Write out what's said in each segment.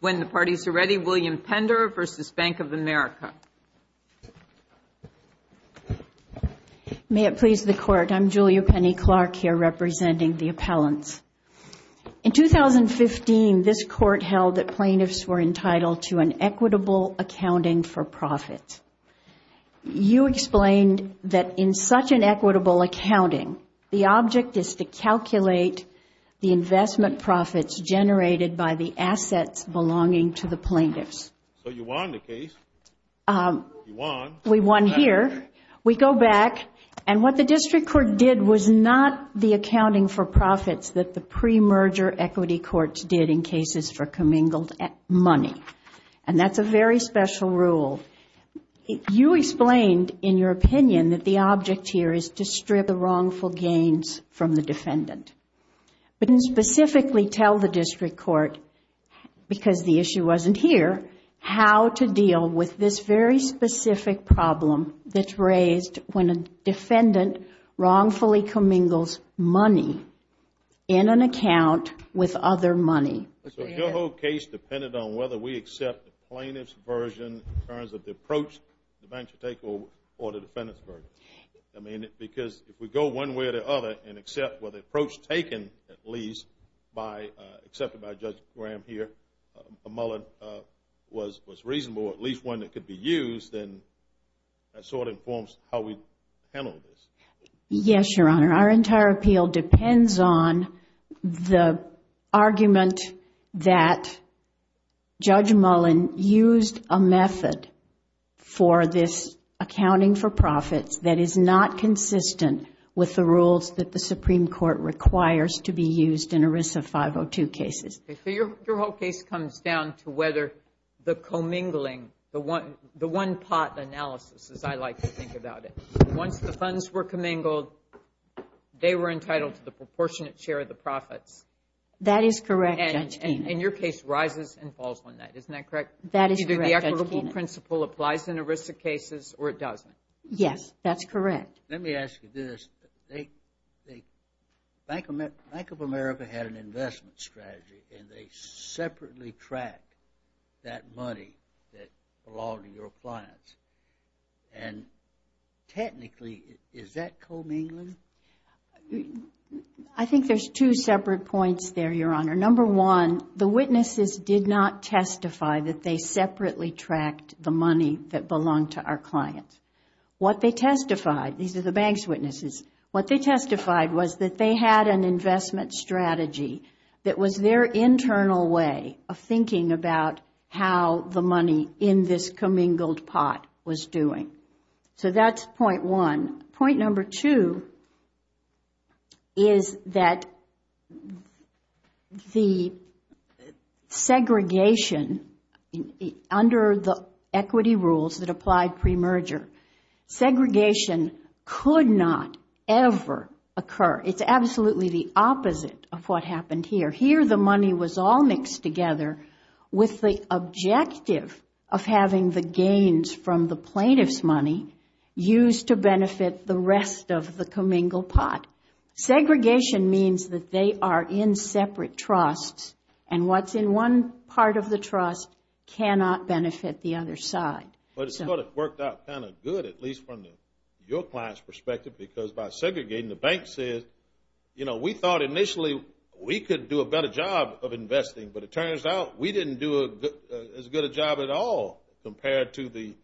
When the parties are ready, William Pender v. Bank of America. May it please the Court, I'm Julia Penny Clark here representing the appellants. In 2015, this Court held that plaintiffs were entitled to an equitable accounting for profit. You explained that in such an equitable accounting, the object is to calculate the investment profits generated by the assets belonging to the plaintiffs. So you won the case. You won. We won here. We go back, and what the District Court did was not the accounting for profits that the pre-merger equity courts did in cases for commingled money. And that's a very special rule. You explained in your opinion that the object here is to strip the wrongful gains from the defendant. But you didn't specifically tell the District Court, because the issue wasn't here, how to deal with this very specific problem that's raised when a defendant wrongfully commingles money in an account with other money. So your whole case depended on whether we accept the plaintiff's version in terms of the approach the bank should take or the defendant's version. I mean, because if we go one way or the other and accept, well, the approach taken at least, accepted by Judge Graham here, Muller, was reasonable, at least one that could be used, then that sort of informs how we handle this. Yes, Your Honor. Our entire appeal depends on the argument that Judge Mullen used a method for this accounting for profits that is not consistent with the rules that the Supreme Court requires to be used in ERISA 502 cases. So your whole case comes down to whether the commingling, the one-pot analysis, as I like to think about it. Once the funds were commingled, they were entitled to the proportionate share of the profits. That is correct, Judge Keenan. And your case rises and falls on that. Isn't that correct? That is correct, Judge Keenan. Either the equitable principle applies in ERISA cases or it doesn't. Yes, that's correct. Let me ask you this. Bank of America had an investment strategy, and they separately tracked that money that belonged to your clients. And technically, is that commingling? I think there's two separate points there, Your Honor. Number one, the witnesses did not testify that they separately tracked the money that belonged to our clients. What they testified, these are the bank's witnesses, what they testified was that they had an investment strategy that was their internal way of thinking about how the money in this commingled pot was doing. So that's point one. Point number two is that the segregation under the equity rules that applied premerger, segregation could not ever occur. It's absolutely the opposite of what happened here. Here the money was all mixed together with the objective of having the gains from the plaintiff's money used to benefit the rest of the commingled pot. Segregation means that they are in separate trusts, and what's in one part of the trust cannot benefit the other side. But it sort of worked out kind of good, at least from your client's perspective, because by segregating, the bank says, you know, we thought initially we could do a better job of investing, but it turns out we didn't do as good a job at all compared to the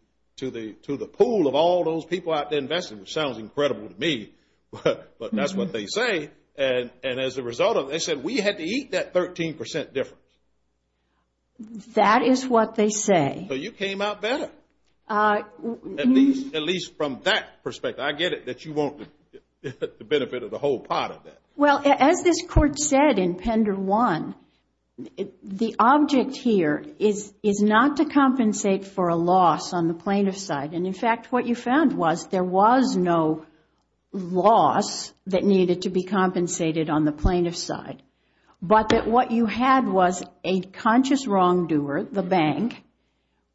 pool of all those people out there investing, which sounds incredible to me, but that's what they say. And as a result of it, they said we had to eat that 13% difference. That is what they say. So you came out better, at least from that perspective. I get it that you want the benefit of the whole pot of that. Well, as this Court said in Pender 1, the object here is not to compensate for a loss on the plaintiff's side. And, in fact, what you found was there was no loss that needed to be compensated on the plaintiff's side, but that what you had was a conscious wrongdoer, the bank,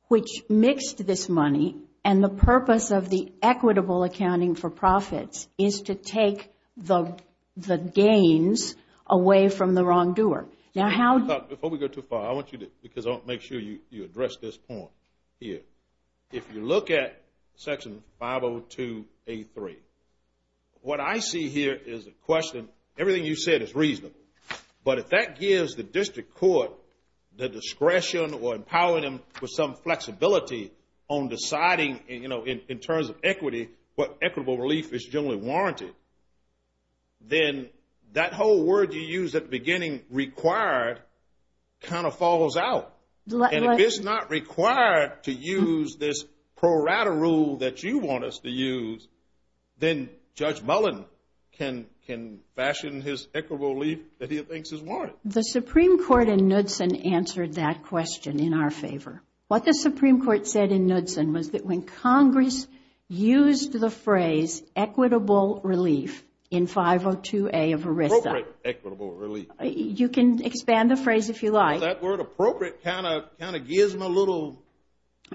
which mixed this money, and the purpose of the equitable accounting for profits is to take the gains away from the wrongdoer. Before we go too far, I want you to make sure you address this point here. If you look at Section 502A3, what I see here is a question. Everything you said is reasonable, but if that gives the district court the discretion or empowering them with some flexibility on deciding, in terms of equity, what equitable relief is generally warranted, then that whole word you used at the beginning, required, kind of falls out. And if it's not required to use this pro rata rule that you want us to use, then Judge Mullen can fashion his equitable relief that he thinks is warranted. The Supreme Court in Knudsen answered that question in our favor. What the Supreme Court said in Knudsen was that when Congress used the phrase equitable relief in 502A of ERISA. Appropriate equitable relief. You can expand the phrase if you like. That word appropriate kind of gives them a little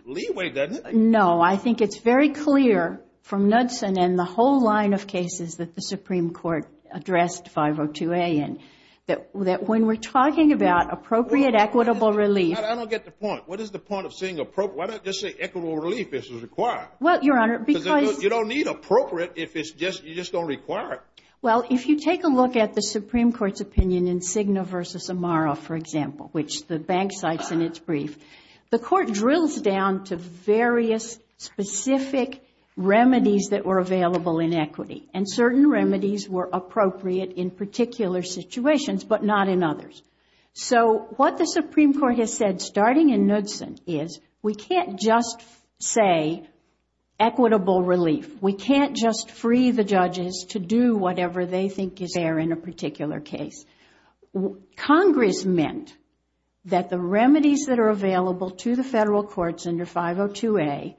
leeway, doesn't it? No, I think it's very clear from Knudsen and the whole line of cases that the Supreme Court addressed 502A in, that when we're talking about appropriate equitable relief. I don't get the point. What is the point of saying equitable relief is required? You don't need appropriate if you're just going to require it. If you take a look at the Supreme Court's opinion in Cigna v. Amaro, for example, which the bank cites in its brief, the court drills down to various specific remedies that were available in equity. And certain remedies were appropriate in particular situations but not in others. So what the Supreme Court has said starting in Knudsen is we can't just say equitable relief. We can't just free the judges to do whatever they think is fair in a particular case. Congress meant that the remedies that are available to the federal courts under 502A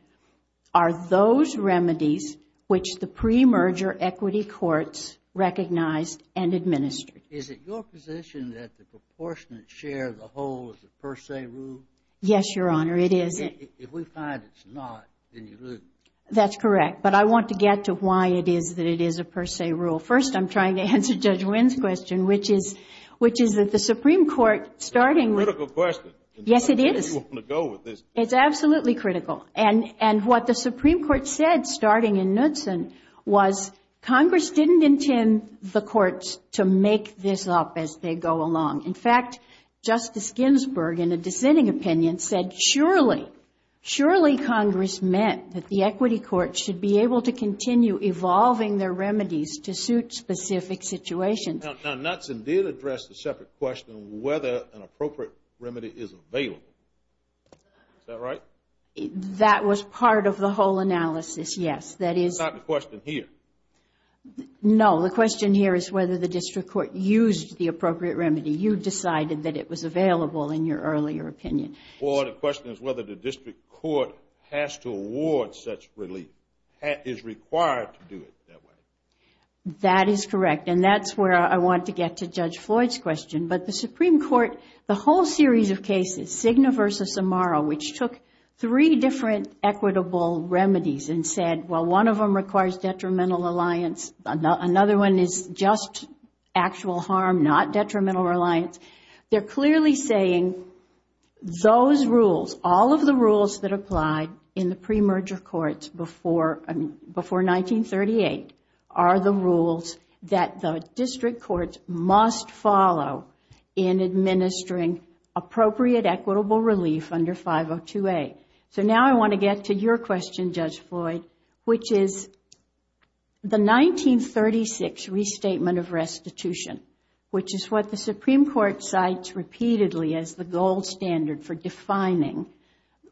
are those remedies which the pre-merger equity courts recognized and administered. Is it your position that the proportionate share of the whole is a per se rule? Yes, Your Honor, it is. If we find it's not, then you lose. That's correct. But I want to get to why it is that it is a per se rule. First, I'm trying to answer Judge Wynn's question, which is that the Supreme Court starting with That's a critical question. Yes, it is. How do you want to go with this? It's absolutely critical. And what the Supreme Court said starting in Knudsen was Congress didn't intend the courts to make this up as they go along. In fact, Justice Ginsburg, in a dissenting opinion, said, Surely Congress meant that the equity courts should be able to continue evolving their remedies to suit specific situations. Now, Knudsen did address the separate question of whether an appropriate remedy is available. Is that right? That was part of the whole analysis, yes. That is It's not the question here. No, the question here is whether the district court used the appropriate remedy. You decided that it was available in your earlier opinion. Or the question is whether the district court has to award such relief, is required to do it that way. That is correct. And that's where I want to get to Judge Floyd's question. But the Supreme Court, the whole series of cases, Cigna versus Amaro, which took three different equitable remedies and said, Well, one of them requires detrimental alliance. Another one is just actual harm, not detrimental reliance. They're clearly saying those rules, all of the rules that applied in the premerger courts before 1938, are the rules that the district courts must follow in administering appropriate equitable relief under 502A. So now I want to get to your question, Judge Floyd, which is the 1936 restatement of restitution, which is what the Supreme Court cites repeatedly as the gold standard for defining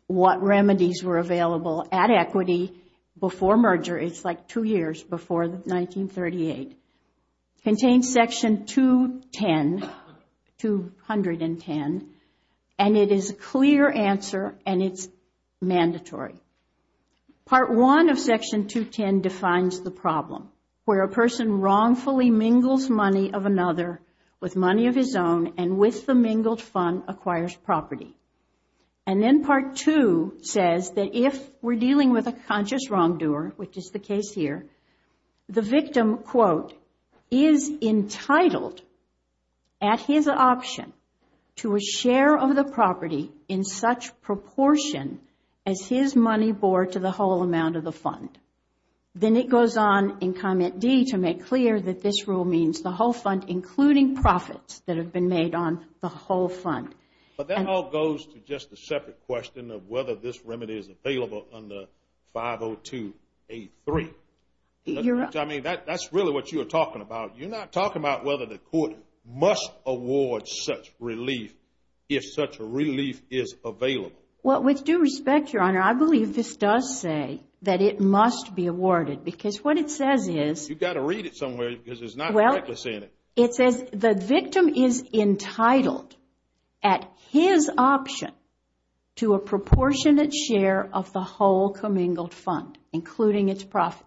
what remedies were available at equity before merger. It's like two years before 1938. It contains Section 210, and it is a clear answer, and it's mandatory. Part 1 of Section 210 defines the problem, where a person wrongfully mingles money of another with money of his own, and with the mingled fund, acquires property. And then Part 2 says that if we're dealing with a conscious wrongdoer, which is the case here, the victim, quote, is entitled at his option to a share of the property in such proportion as his money bore to the whole amount of the fund. Then it goes on in Comment D to make clear that this rule means the whole fund, including profits that have been made on the whole fund. But that all goes to just a separate question of whether this remedy is available under 502A3. I mean, that's really what you're talking about. You're not talking about whether the court must award such relief if such a relief is available. Well, with due respect, Your Honor, I believe this does say that it must be awarded, because what it says is – You've got to read it somewhere, because it's not reckless in it. It says the victim is entitled at his option to a proportionate share of the whole commingled fund, including its profits.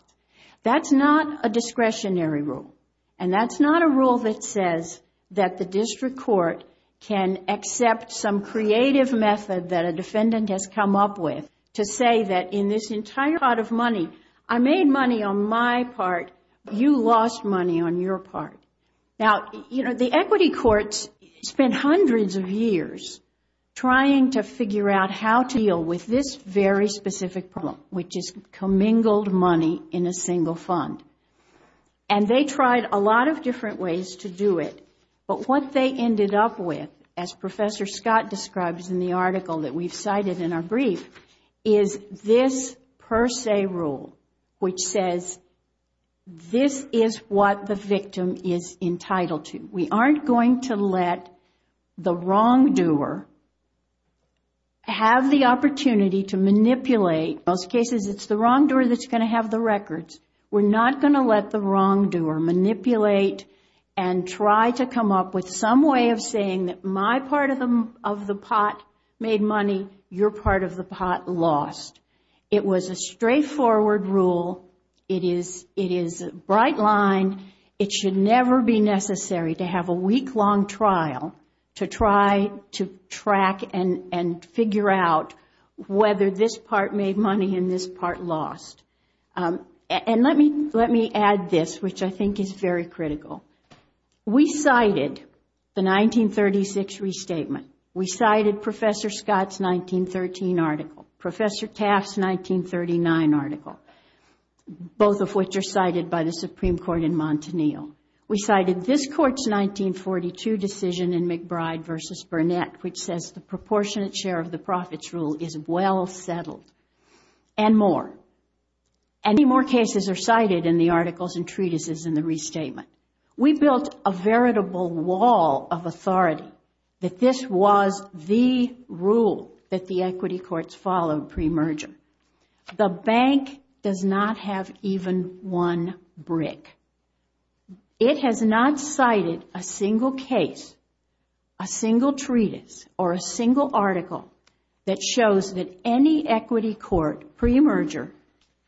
That's not a discretionary rule. And that's not a rule that says that the district court can accept some creative method that a defendant has come up with to say that in this entire pot of money, I made money on my part. You lost money on your part. Now, you know, the equity courts spent hundreds of years trying to figure out how to deal with this very specific problem, which is commingled money in a single fund. And they tried a lot of different ways to do it. But what they ended up with, as Professor Scott describes in the article that we've cited in our brief, is this per se rule, which says this is what the victim is entitled to. We aren't going to let the wrongdoer have the opportunity to manipulate. In most cases, it's the wrongdoer that's going to have the records. We're not going to let the wrongdoer manipulate and try to come up with some way of saying that my part of the pot made money, your part of the pot lost. It was a straightforward rule. It is a bright line. It should never be necessary to have a week-long trial to try to track and figure out whether this part made money and this part lost. And let me add this, which I think is very critical. We cited the 1936 restatement. We cited Professor Scott's 1913 article, Professor Taft's 1939 article, both of which are cited by the Supreme Court in Montanil. We cited this Court's 1942 decision in McBride v. Burnett, which says the proportionate share of the profits rule is well settled, and more. And many more cases are cited in the articles and treatises in the restatement. We built a veritable wall of authority that this was the rule that the equity courts followed premerger. The bank does not have even one brick. It has not cited a single case, a single treatise, or a single article that shows that any equity court premerger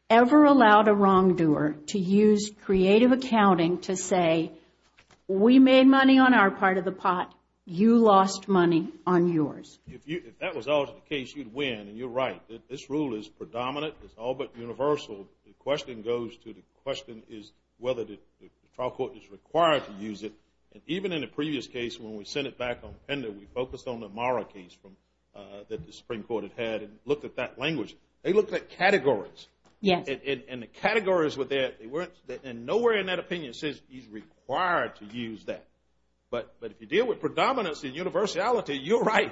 ever allowed a wrongdoer to use creative accounting to say, we made money on our part of the pot, you lost money on yours. If that was always the case, you'd win. And you're right. This rule is predominant. It's all but universal. The question goes to the question is whether the trial court is required to use it. And even in the previous case, when we sent it back on Pender, we focused on the Mara case that the Supreme Court had had and looked at that language. They looked at categories. And the categories were there. And nowhere in that opinion says he's required to use that. But if you deal with predominance and universality, you're right.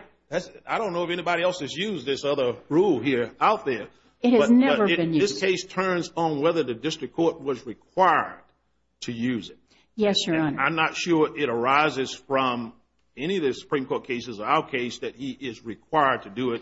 I don't know if anybody else has used this other rule here out there. It has never been used. This case turns on whether the district court was required to use it. Yes, Your Honor. And I'm not sure it arises from any of the Supreme Court cases, our case, that he is required to do it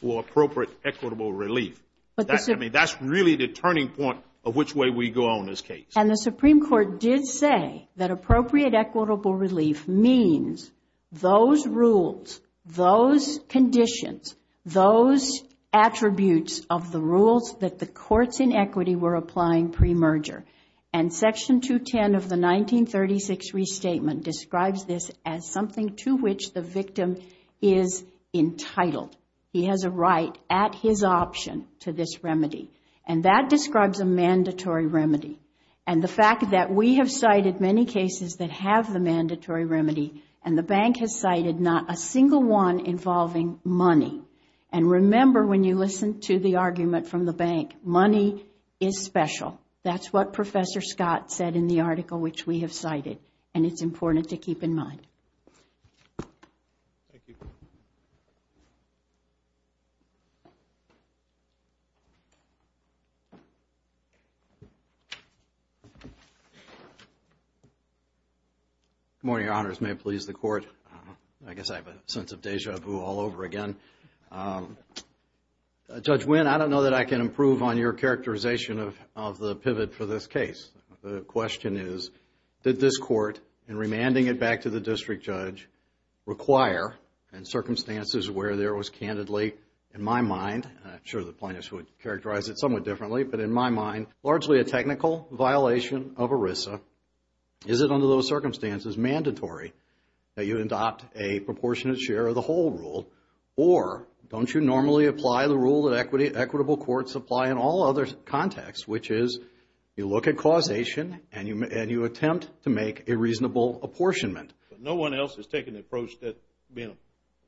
for appropriate equitable relief. I mean, that's really the turning point of which way we go on this case. And the Supreme Court did say that appropriate equitable relief means those rules, those conditions, those attributes of the rules that the courts in equity were applying pre-merger. And Section 210 of the 1936 Restatement describes this as something to which the victim is entitled. He has a right at his option to this remedy. And that describes a mandatory remedy. And the fact that we have cited many cases that have the mandatory remedy, and the bank has cited not a single one involving money. And remember when you listen to the argument from the bank, money is special. That's what Professor Scott said in the article which we have cited. And it's important to keep in mind. Thank you. Good morning, Your Honors. May it please the Court. I guess I have a sense of deja vu all over again. Judge Winn, I don't know that I can improve on your characterization of the pivot for this case. The question is, did this court, in remanding it back to the district judge, require, in circumstances where there was candidly, in my mind, I'm sure the plaintiffs would characterize it somewhat differently, but in my mind, largely a technical violation of ERISA, is it under those circumstances mandatory that you adopt a proportionate share of the whole rule? Or don't you normally apply the rule that equitable courts apply in all other contexts, which is you look at causation and you attempt to make a reasonable apportionment? No one else has taken the approach that's being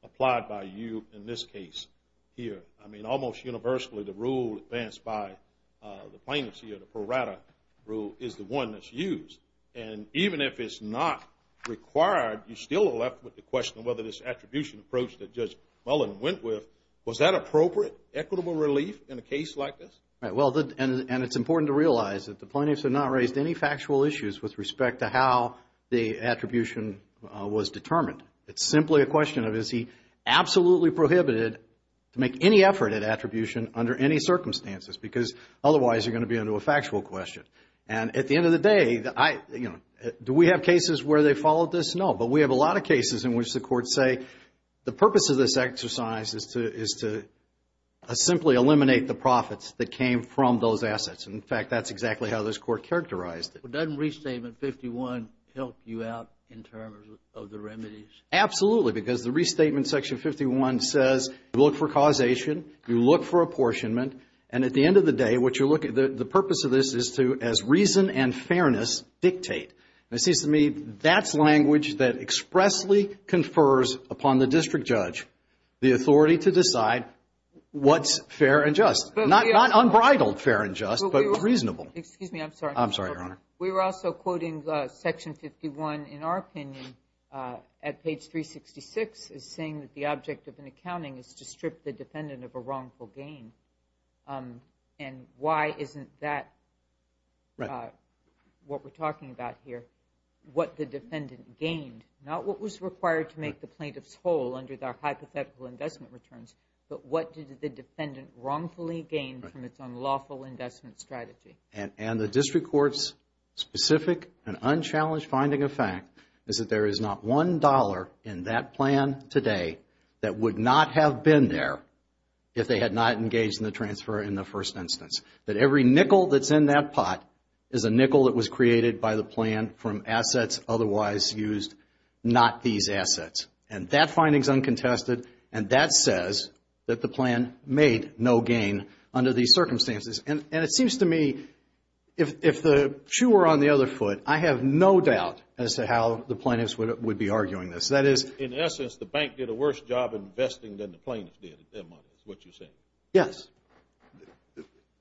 applied by you in this case here. I mean, almost universally, the rule advanced by the plaintiffs here, the pro rata rule, is the one that's used. And even if it's not required, you still are left with the question of whether this attribution approach that Judge Mullen went with, was that appropriate, equitable relief in a case like this? Well, and it's important to realize that the plaintiffs have not raised any factual issues with respect to how the attribution was determined. It's simply a question of, is he absolutely prohibited to make any effort at attribution under any circumstances? Because otherwise, you're going to be under a factual question. And at the end of the day, do we have cases where they followed this? No, but we have a lot of cases in which the courts say the purpose of this exercise is to simply eliminate the profits that came from those assets. In fact, that's exactly how this court characterized it. But doesn't Restatement 51 help you out in terms of the remedies? Absolutely, because the Restatement Section 51 says, look for causation, you look for apportionment, and at the end of the day, the purpose of this is to, as reason and fairness dictate. And it seems to me that's language that expressly confers upon the district judge the authority to decide what's fair and just. Not unbridled fair and just, but reasonable. Excuse me, I'm sorry. I'm sorry, Your Honor. We were also quoting Section 51, in our opinion, at page 366, as saying that the object of an accounting is to strip the defendant of a wrongful gain. And why isn't that what we're talking about here? What the defendant gained, not what was required to make the plaintiff's whole under their hypothetical investment returns, but what did the defendant wrongfully gain from its unlawful investment strategy? And the district court's specific and unchallenged finding of fact is that there is not one dollar in that plan today that would not have been there if they had not engaged in the transfer in the first instance. That every nickel that's in that pot is a nickel that was created by the plan from assets otherwise used, not these assets. And that finding's uncontested, and that says that the plan made no gain under these circumstances. And it seems to me, if the shoe were on the other foot, I have no doubt as to how the plaintiffs would be arguing this. In essence, the bank did a worse job investing than the plaintiffs did, is what you're saying? Yes.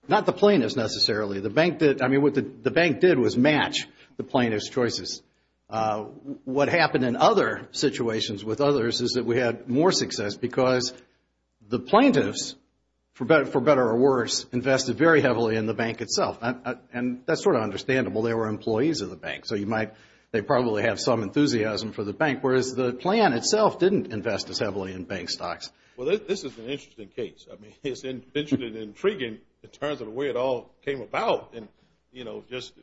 Not the plaintiffs necessarily. I mean, what the bank did was match the plaintiffs' choices. What happened in other situations with others is that we had more success because the plaintiffs, for better or worse, invested very heavily in the bank itself. And that's sort of understandable. They were employees of the bank, so they probably have some enthusiasm for the bank. Whereas the plan itself didn't invest as heavily in bank stocks. Well, this is an interesting case. I mean, it's intriguing in terms of the way it all came about. And, you know, just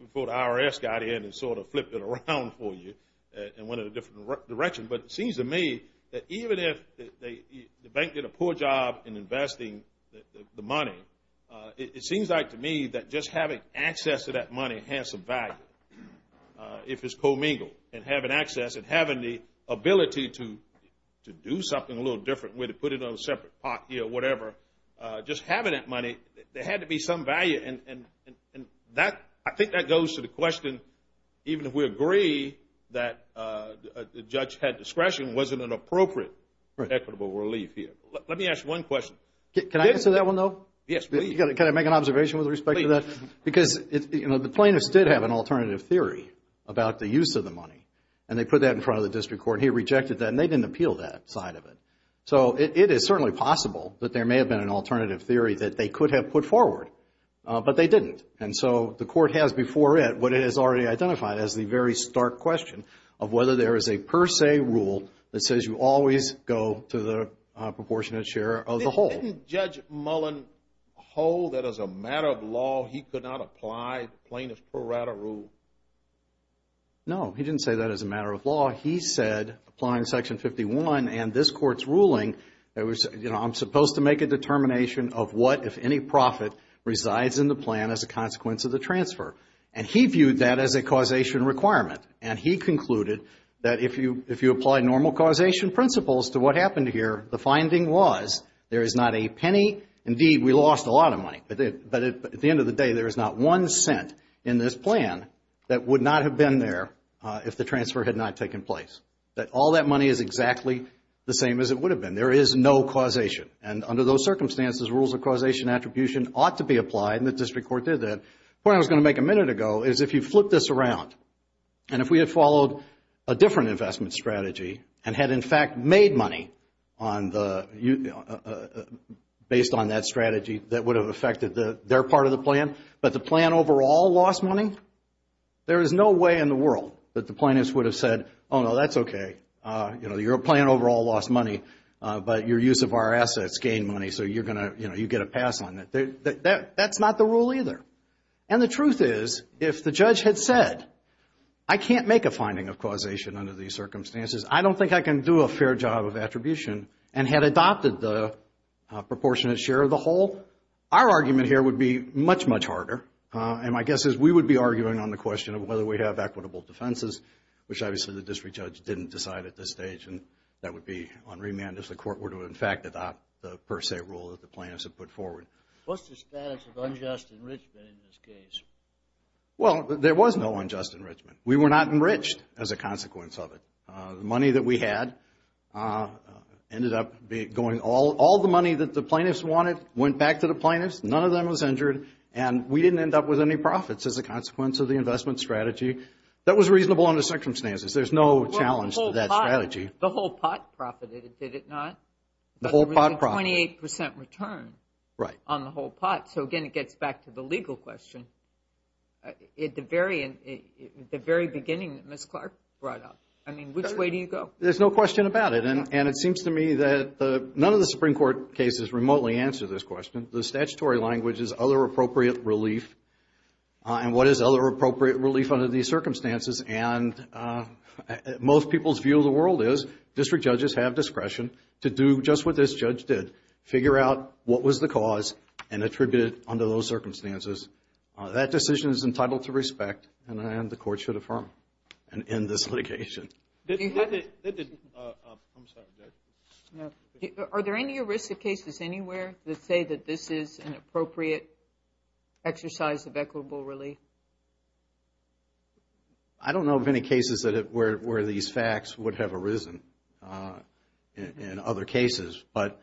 before the IRS got in and sort of flipped it around for you and went in a different direction. But it seems to me that even if the bank did a poor job in investing the money, it seems like to me that just having access to that money has some value. If it's commingled, and having access and having the ability to do something a little different, whether to put it on a separate pot here or whatever, just having that money, there had to be some value. And I think that goes to the question, even if we agree that the judge had discretion, wasn't it appropriate for equitable relief here? Let me ask you one question. Can I answer that one, though? Yes, please. Can I make an observation with respect to that? Please. Because, you know, the plaintiffs did have an alternative theory about the use of the money. And they put that in front of the district court, and he rejected that, and they didn't appeal that side of it. So it is certainly possible that there may have been an alternative theory that they could have put forward, but they didn't. And so the court has before it what it has already identified as the very stark question of whether there is a per se rule that says you always go to the proportionate share of the whole. Didn't Judge Mullen hold that as a matter of law he could not apply the plaintiff pro rata rule? No, he didn't say that as a matter of law. He said, applying Section 51 and this Court's ruling, I'm supposed to make a determination of what, if any profit, resides in the plan as a consequence of the transfer. And he viewed that as a causation requirement, and he concluded that if you apply normal causation principles to what happened here, the finding was there is not a penny. Indeed, we lost a lot of money, but at the end of the day, there is not one cent in this plan that would not have been there if the transfer had not taken place, that all that money is exactly the same as it would have been. There is no causation, and under those circumstances, rules of causation attribution ought to be applied, and the district court did that. The point I was going to make a minute ago is if you flip this around, and if we had followed a different investment strategy and had, in fact, made money based on that strategy that would have affected their part of the plan, but the plan overall lost money, there is no way in the world that the plaintiffs would have said, oh, no, that's okay. Your plan overall lost money, but your use of our assets gained money, so you get a pass on it. That's not the rule either. And the truth is, if the judge had said, I can't make a finding of causation under these circumstances, I don't think I can do a fair job of attribution, and had adopted the proportionate share of the whole, our argument here would be much, much harder, and my guess is we would be arguing on the question of whether we have equitable defenses, which obviously the district judge didn't decide at this stage, and that would be unremanded if the court were to, in fact, adopt the per se rule that the plaintiffs had put forward. What's the status of unjust enrichment in this case? Well, there was no unjust enrichment. We were not enriched as a consequence of it. The money that we had ended up going, all the money that the plaintiffs wanted went back to the plaintiffs. None of them was injured, and we didn't end up with any profits as a consequence of the investment strategy. That was reasonable under circumstances. There's no challenge to that strategy. The whole pot profited, did it not? The whole pot profited. There was a 28% return on the whole pot. So, again, it gets back to the legal question. At the very beginning that Ms. Clark brought up, I mean, which way do you go? There's no question about it, and it seems to me that none of the Supreme Court cases remotely answer this question. The statutory language is other appropriate relief. And what is other appropriate relief under these circumstances? And most people's view of the world is district judges have discretion to do just what this judge did, figure out what was the cause and attribute it under those circumstances. That decision is entitled to respect, and the court should affirm and end this litigation. Are there any arrested cases anywhere that say that this is an appropriate exercise of equitable relief? I don't know of any cases where these facts would have arisen in other cases. But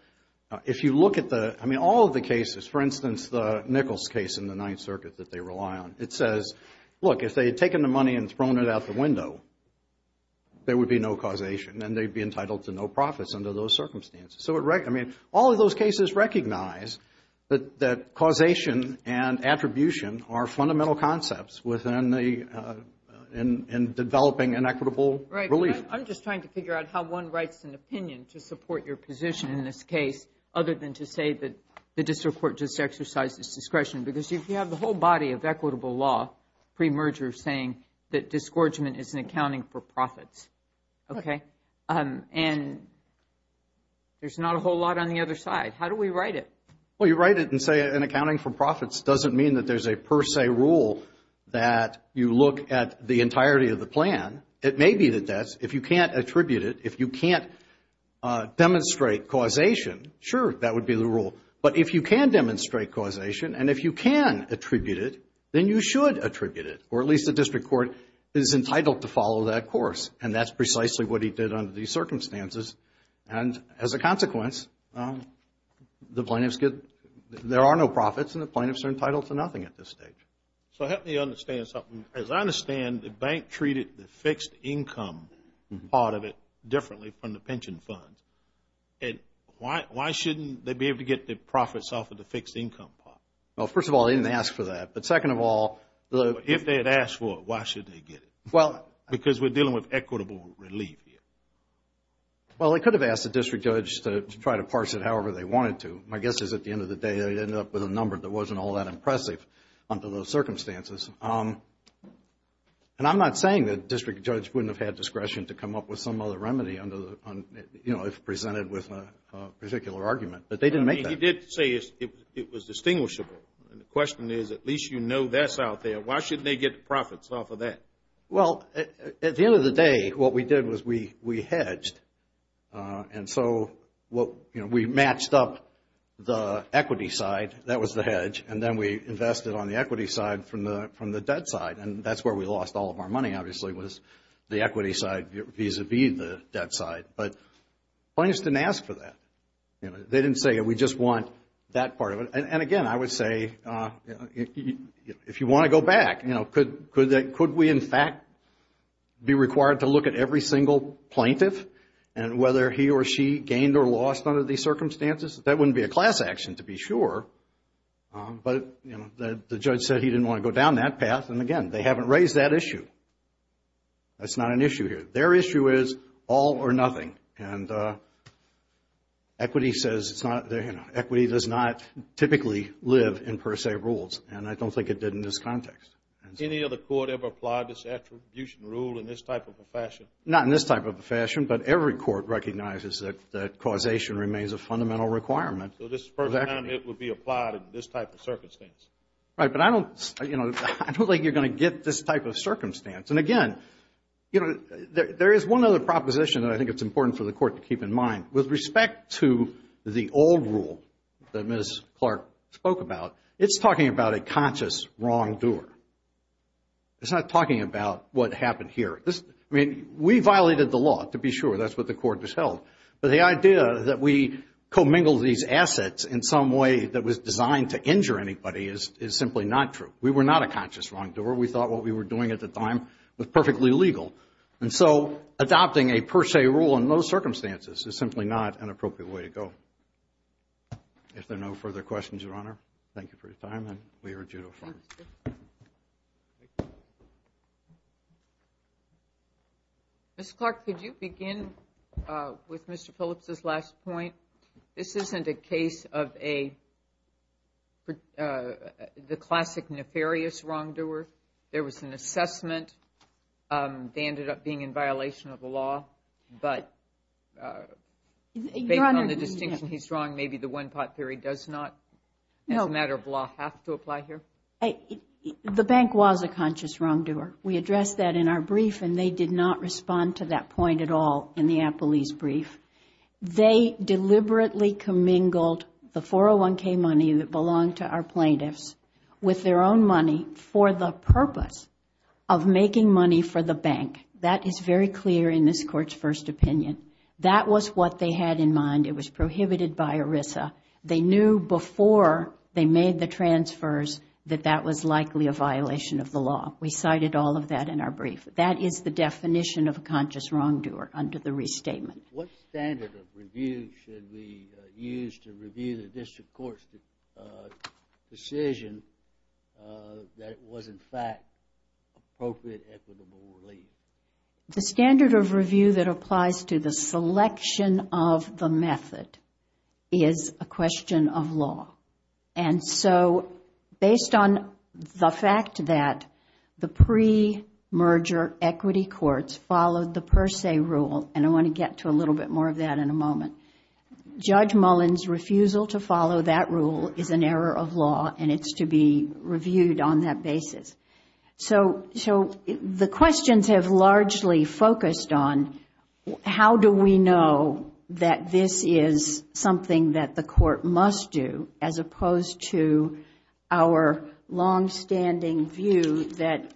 if you look at the, I mean, all of the cases, for instance, the Nichols case in the Ninth Circuit that they rely on, it says, look, if they had taken the money and thrown it out the window, there would be no causation, and they'd be entitled to no profits under those circumstances. So, I mean, all of those cases recognize that causation and attribution are fundamental concepts within developing an equitable relief. I'm just trying to figure out how one writes an opinion to support your position in this case, other than to say that the district court just exercised its discretion. Because if you have the whole body of equitable law pre-merger saying that disgorgement is an accounting for profits, okay, and there's not a whole lot on the other side, how do we write it? Well, you write it and say an accounting for profits doesn't mean that there's a per se rule that you look at the entirety of the plan. It may be that that's, if you can't attribute it, if you can't demonstrate causation, sure, that would be the rule. But if you can demonstrate causation, and if you can attribute it, then you should attribute it, or at least the district court is entitled to follow that course, and that's precisely what he did under these circumstances. And as a consequence, the plaintiffs get, there are no profits, and the plaintiffs are entitled to nothing at this stage. So help me understand something. As I understand, the bank treated the fixed income part of it differently from the pension funds. Why shouldn't they be able to get the profits off of the fixed income part? Well, first of all, they didn't ask for that. But second of all, if they had asked for it, why should they get it? Because we're dealing with equitable relief here. Well, they could have asked the district judge to try to parse it however they wanted to. My guess is at the end of the day, they ended up with a number that wasn't all that impressive under those circumstances. And I'm not saying the district judge wouldn't have had discretion to come up with some other remedy if presented with a particular argument, but they didn't make that. You did say it was distinguishable. The question is, at least you know that's out there. Why shouldn't they get the profits off of that? Well, at the end of the day, what we did was we hedged. And so we matched up the equity side. That was the hedge. And then we invested on the equity side from the debt side. And that's where we lost all of our money, obviously, was the equity side vis-à-vis the debt side. But plaintiffs didn't ask for that. They didn't say we just want that part of it. And again, I would say if you want to go back, could we in fact be required to look at every single plaintiff and whether he or she gained or lost under these circumstances? That wouldn't be a class action, to be sure. But the judge said he didn't want to go down that path. And again, they haven't raised that issue. That's not an issue here. Their issue is all or nothing. And equity does not typically live in per se rules, and I don't think it did in this context. Any other court ever applied this attribution rule in this type of a fashion? Not in this type of a fashion, but every court recognizes that causation remains a fundamental requirement. So this is the first time it would be applied in this type of circumstance. Right, but I don't think you're going to get this type of circumstance. And again, there is one other proposition that I think it's important for the court to keep in mind. With respect to the old rule that Ms. Clark spoke about, it's talking about a conscious wrongdoer. It's not talking about what happened here. I mean, we violated the law, to be sure. That's what the court just held. But the idea that we commingled these assets in some way that was designed to injure anybody is simply not true. We were not a conscious wrongdoer. We thought what we were doing at the time was perfectly legal. And so adopting a per se rule in those circumstances is simply not an appropriate way to go. If there are no further questions, Your Honor, thank you for your time. We are adjourned. Ms. Clark, could you begin with Mr. Phillips' last point? This isn't a case of the classic nefarious wrongdoer. There was an assessment. They ended up being in violation of the law, but based on the distinction he's drawing, maybe the one-pot theory does not, as a matter of law, have to apply here? The bank was a conscious wrongdoer. We addressed that in our brief, and they did not respond to that point at all in the appellee's brief. They deliberately commingled the 401K money that belonged to our plaintiffs with their own money for the purpose of making money for the bank. That is very clear in this Court's first opinion. That was what they had in mind. It was prohibited by ERISA. They knew before they made the transfers that that was likely a violation of the law. We cited all of that in our brief. That is the definition of a conscious wrongdoer under the restatement. What standard of review should we use to review the district court's decision that it was, in fact, appropriate equitable relief? The standard of review that applies to the selection of the method is a question of law. Based on the fact that the pre-merger equity courts followed the per se rule, and I want to get to a little bit more of that in a moment, Judge Mullen's refusal to follow that rule is an error of law, and it's to be reviewed on that basis. The questions have largely focused on how do we know that this is something that the court must do, as opposed to our longstanding view that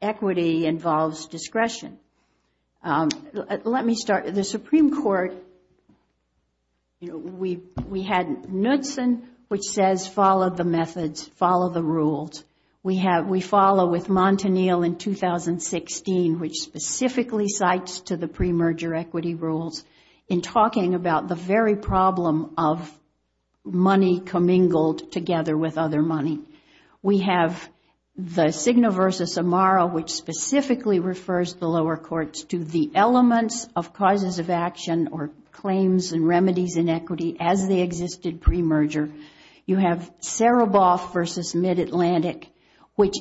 equity involves discretion. Let me start. The Supreme Court, we had Knutson, which says follow the methods, follow the rules. We follow with Montanil in 2016, which specifically cites to the pre-merger equity rules in talking about the very problem of money commingled together with other money. We have the Signo v. Amaro, which specifically refers the lower courts to the elements of causes of action or claims and remedies in equity as they existed pre-merger. You have Saraboff v. Mid-Atlantic, which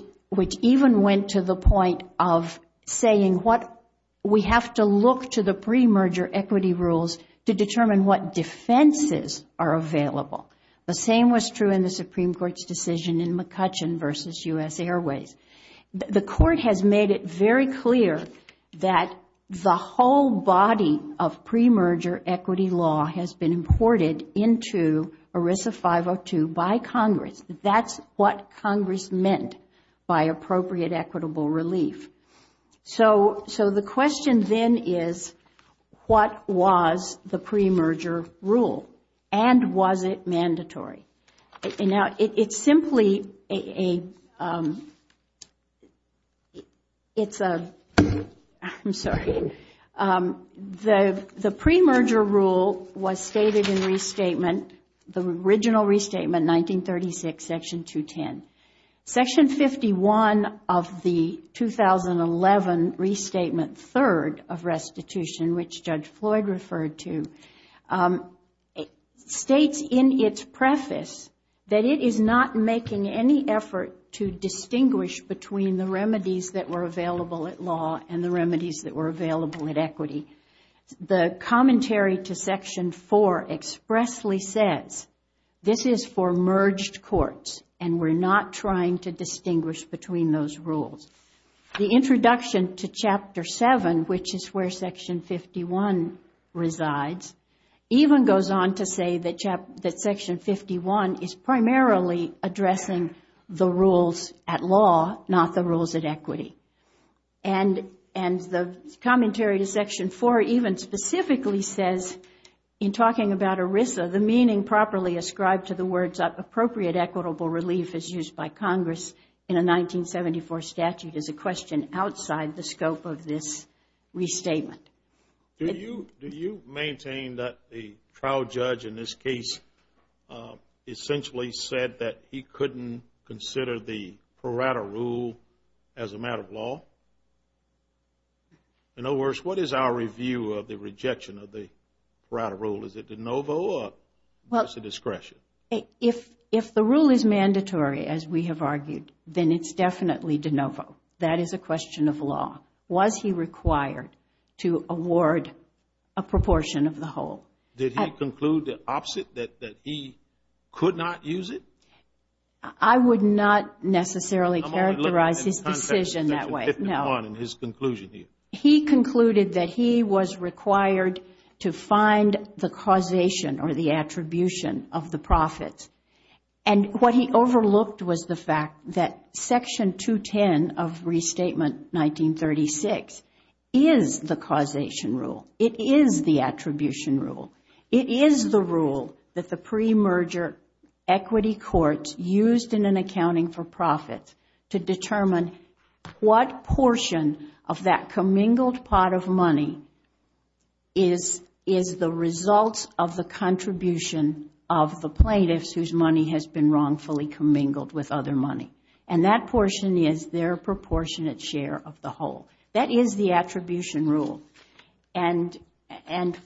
even went to the point of saying we have to look to the pre-merger equity rules to determine what defenses are available. The same was true in the Supreme Court's decision in McCutcheon v. U.S. Airways. The court has made it very clear that the whole body of pre-merger equity law has been imported into ERISA 502 by Congress. That is what Congress meant by appropriate equitable relief. The question then is what was the pre-merger rule and was it mandatory? Now, it's simply a, it's a, I'm sorry, the pre-merger rule was stated in restatement, the original restatement, 1936, section 210. Section 51 of the 2011 restatement third of restitution, which Judge Floyd referred to, states in its preface that it is not making any effort to distinguish between the remedies that were available at law and the remedies that were available at equity. The commentary to section 4 expressly says this is for merged courts and we're not trying to distinguish between those rules. The introduction to chapter 7, which is where section 51 resides, even goes on to say that section 51 is primarily addressing the rules at law, not the rules at equity. And the commentary to section 4 even specifically says, in talking about ERISA, the meaning properly ascribed to the words appropriate equitable relief is used by Congress in a 1974 statute is a question outside the scope of this restatement. Do you maintain that the trial judge in this case essentially said that he couldn't consider the Parada rule as a matter of law? In other words, what is our review of the rejection of the Parada rule? Is it de novo or just a discretion? If the rule is mandatory, as we have argued, then it's definitely de novo. That is a question of law. Was he required to award a proportion of the whole? Did he conclude the opposite, that he could not use it? I would not necessarily characterize his decision that way. No. In his conclusion, do you? He concluded that he was required to find the causation or the attribution of the profits. And what he overlooked was the fact that section 210 of Restatement 1936 is the causation rule. It is the attribution rule. It is the rule that the pre-merger equity court used in an accounting for profit to determine what portion of that commingled pot of money is the result of the contribution of the plaintiffs whose money has been wrongfully commingled with other money. And that portion is their proportionate share of the whole. That is the attribution rule. And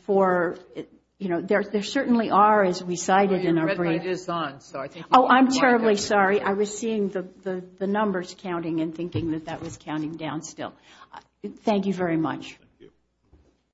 for, you know, there certainly are, as we cited in our brief. The red light is on. Oh, I'm terribly sorry. I was seeing the numbers counting and thinking that that was counting down still. Thank you very much. Thank you.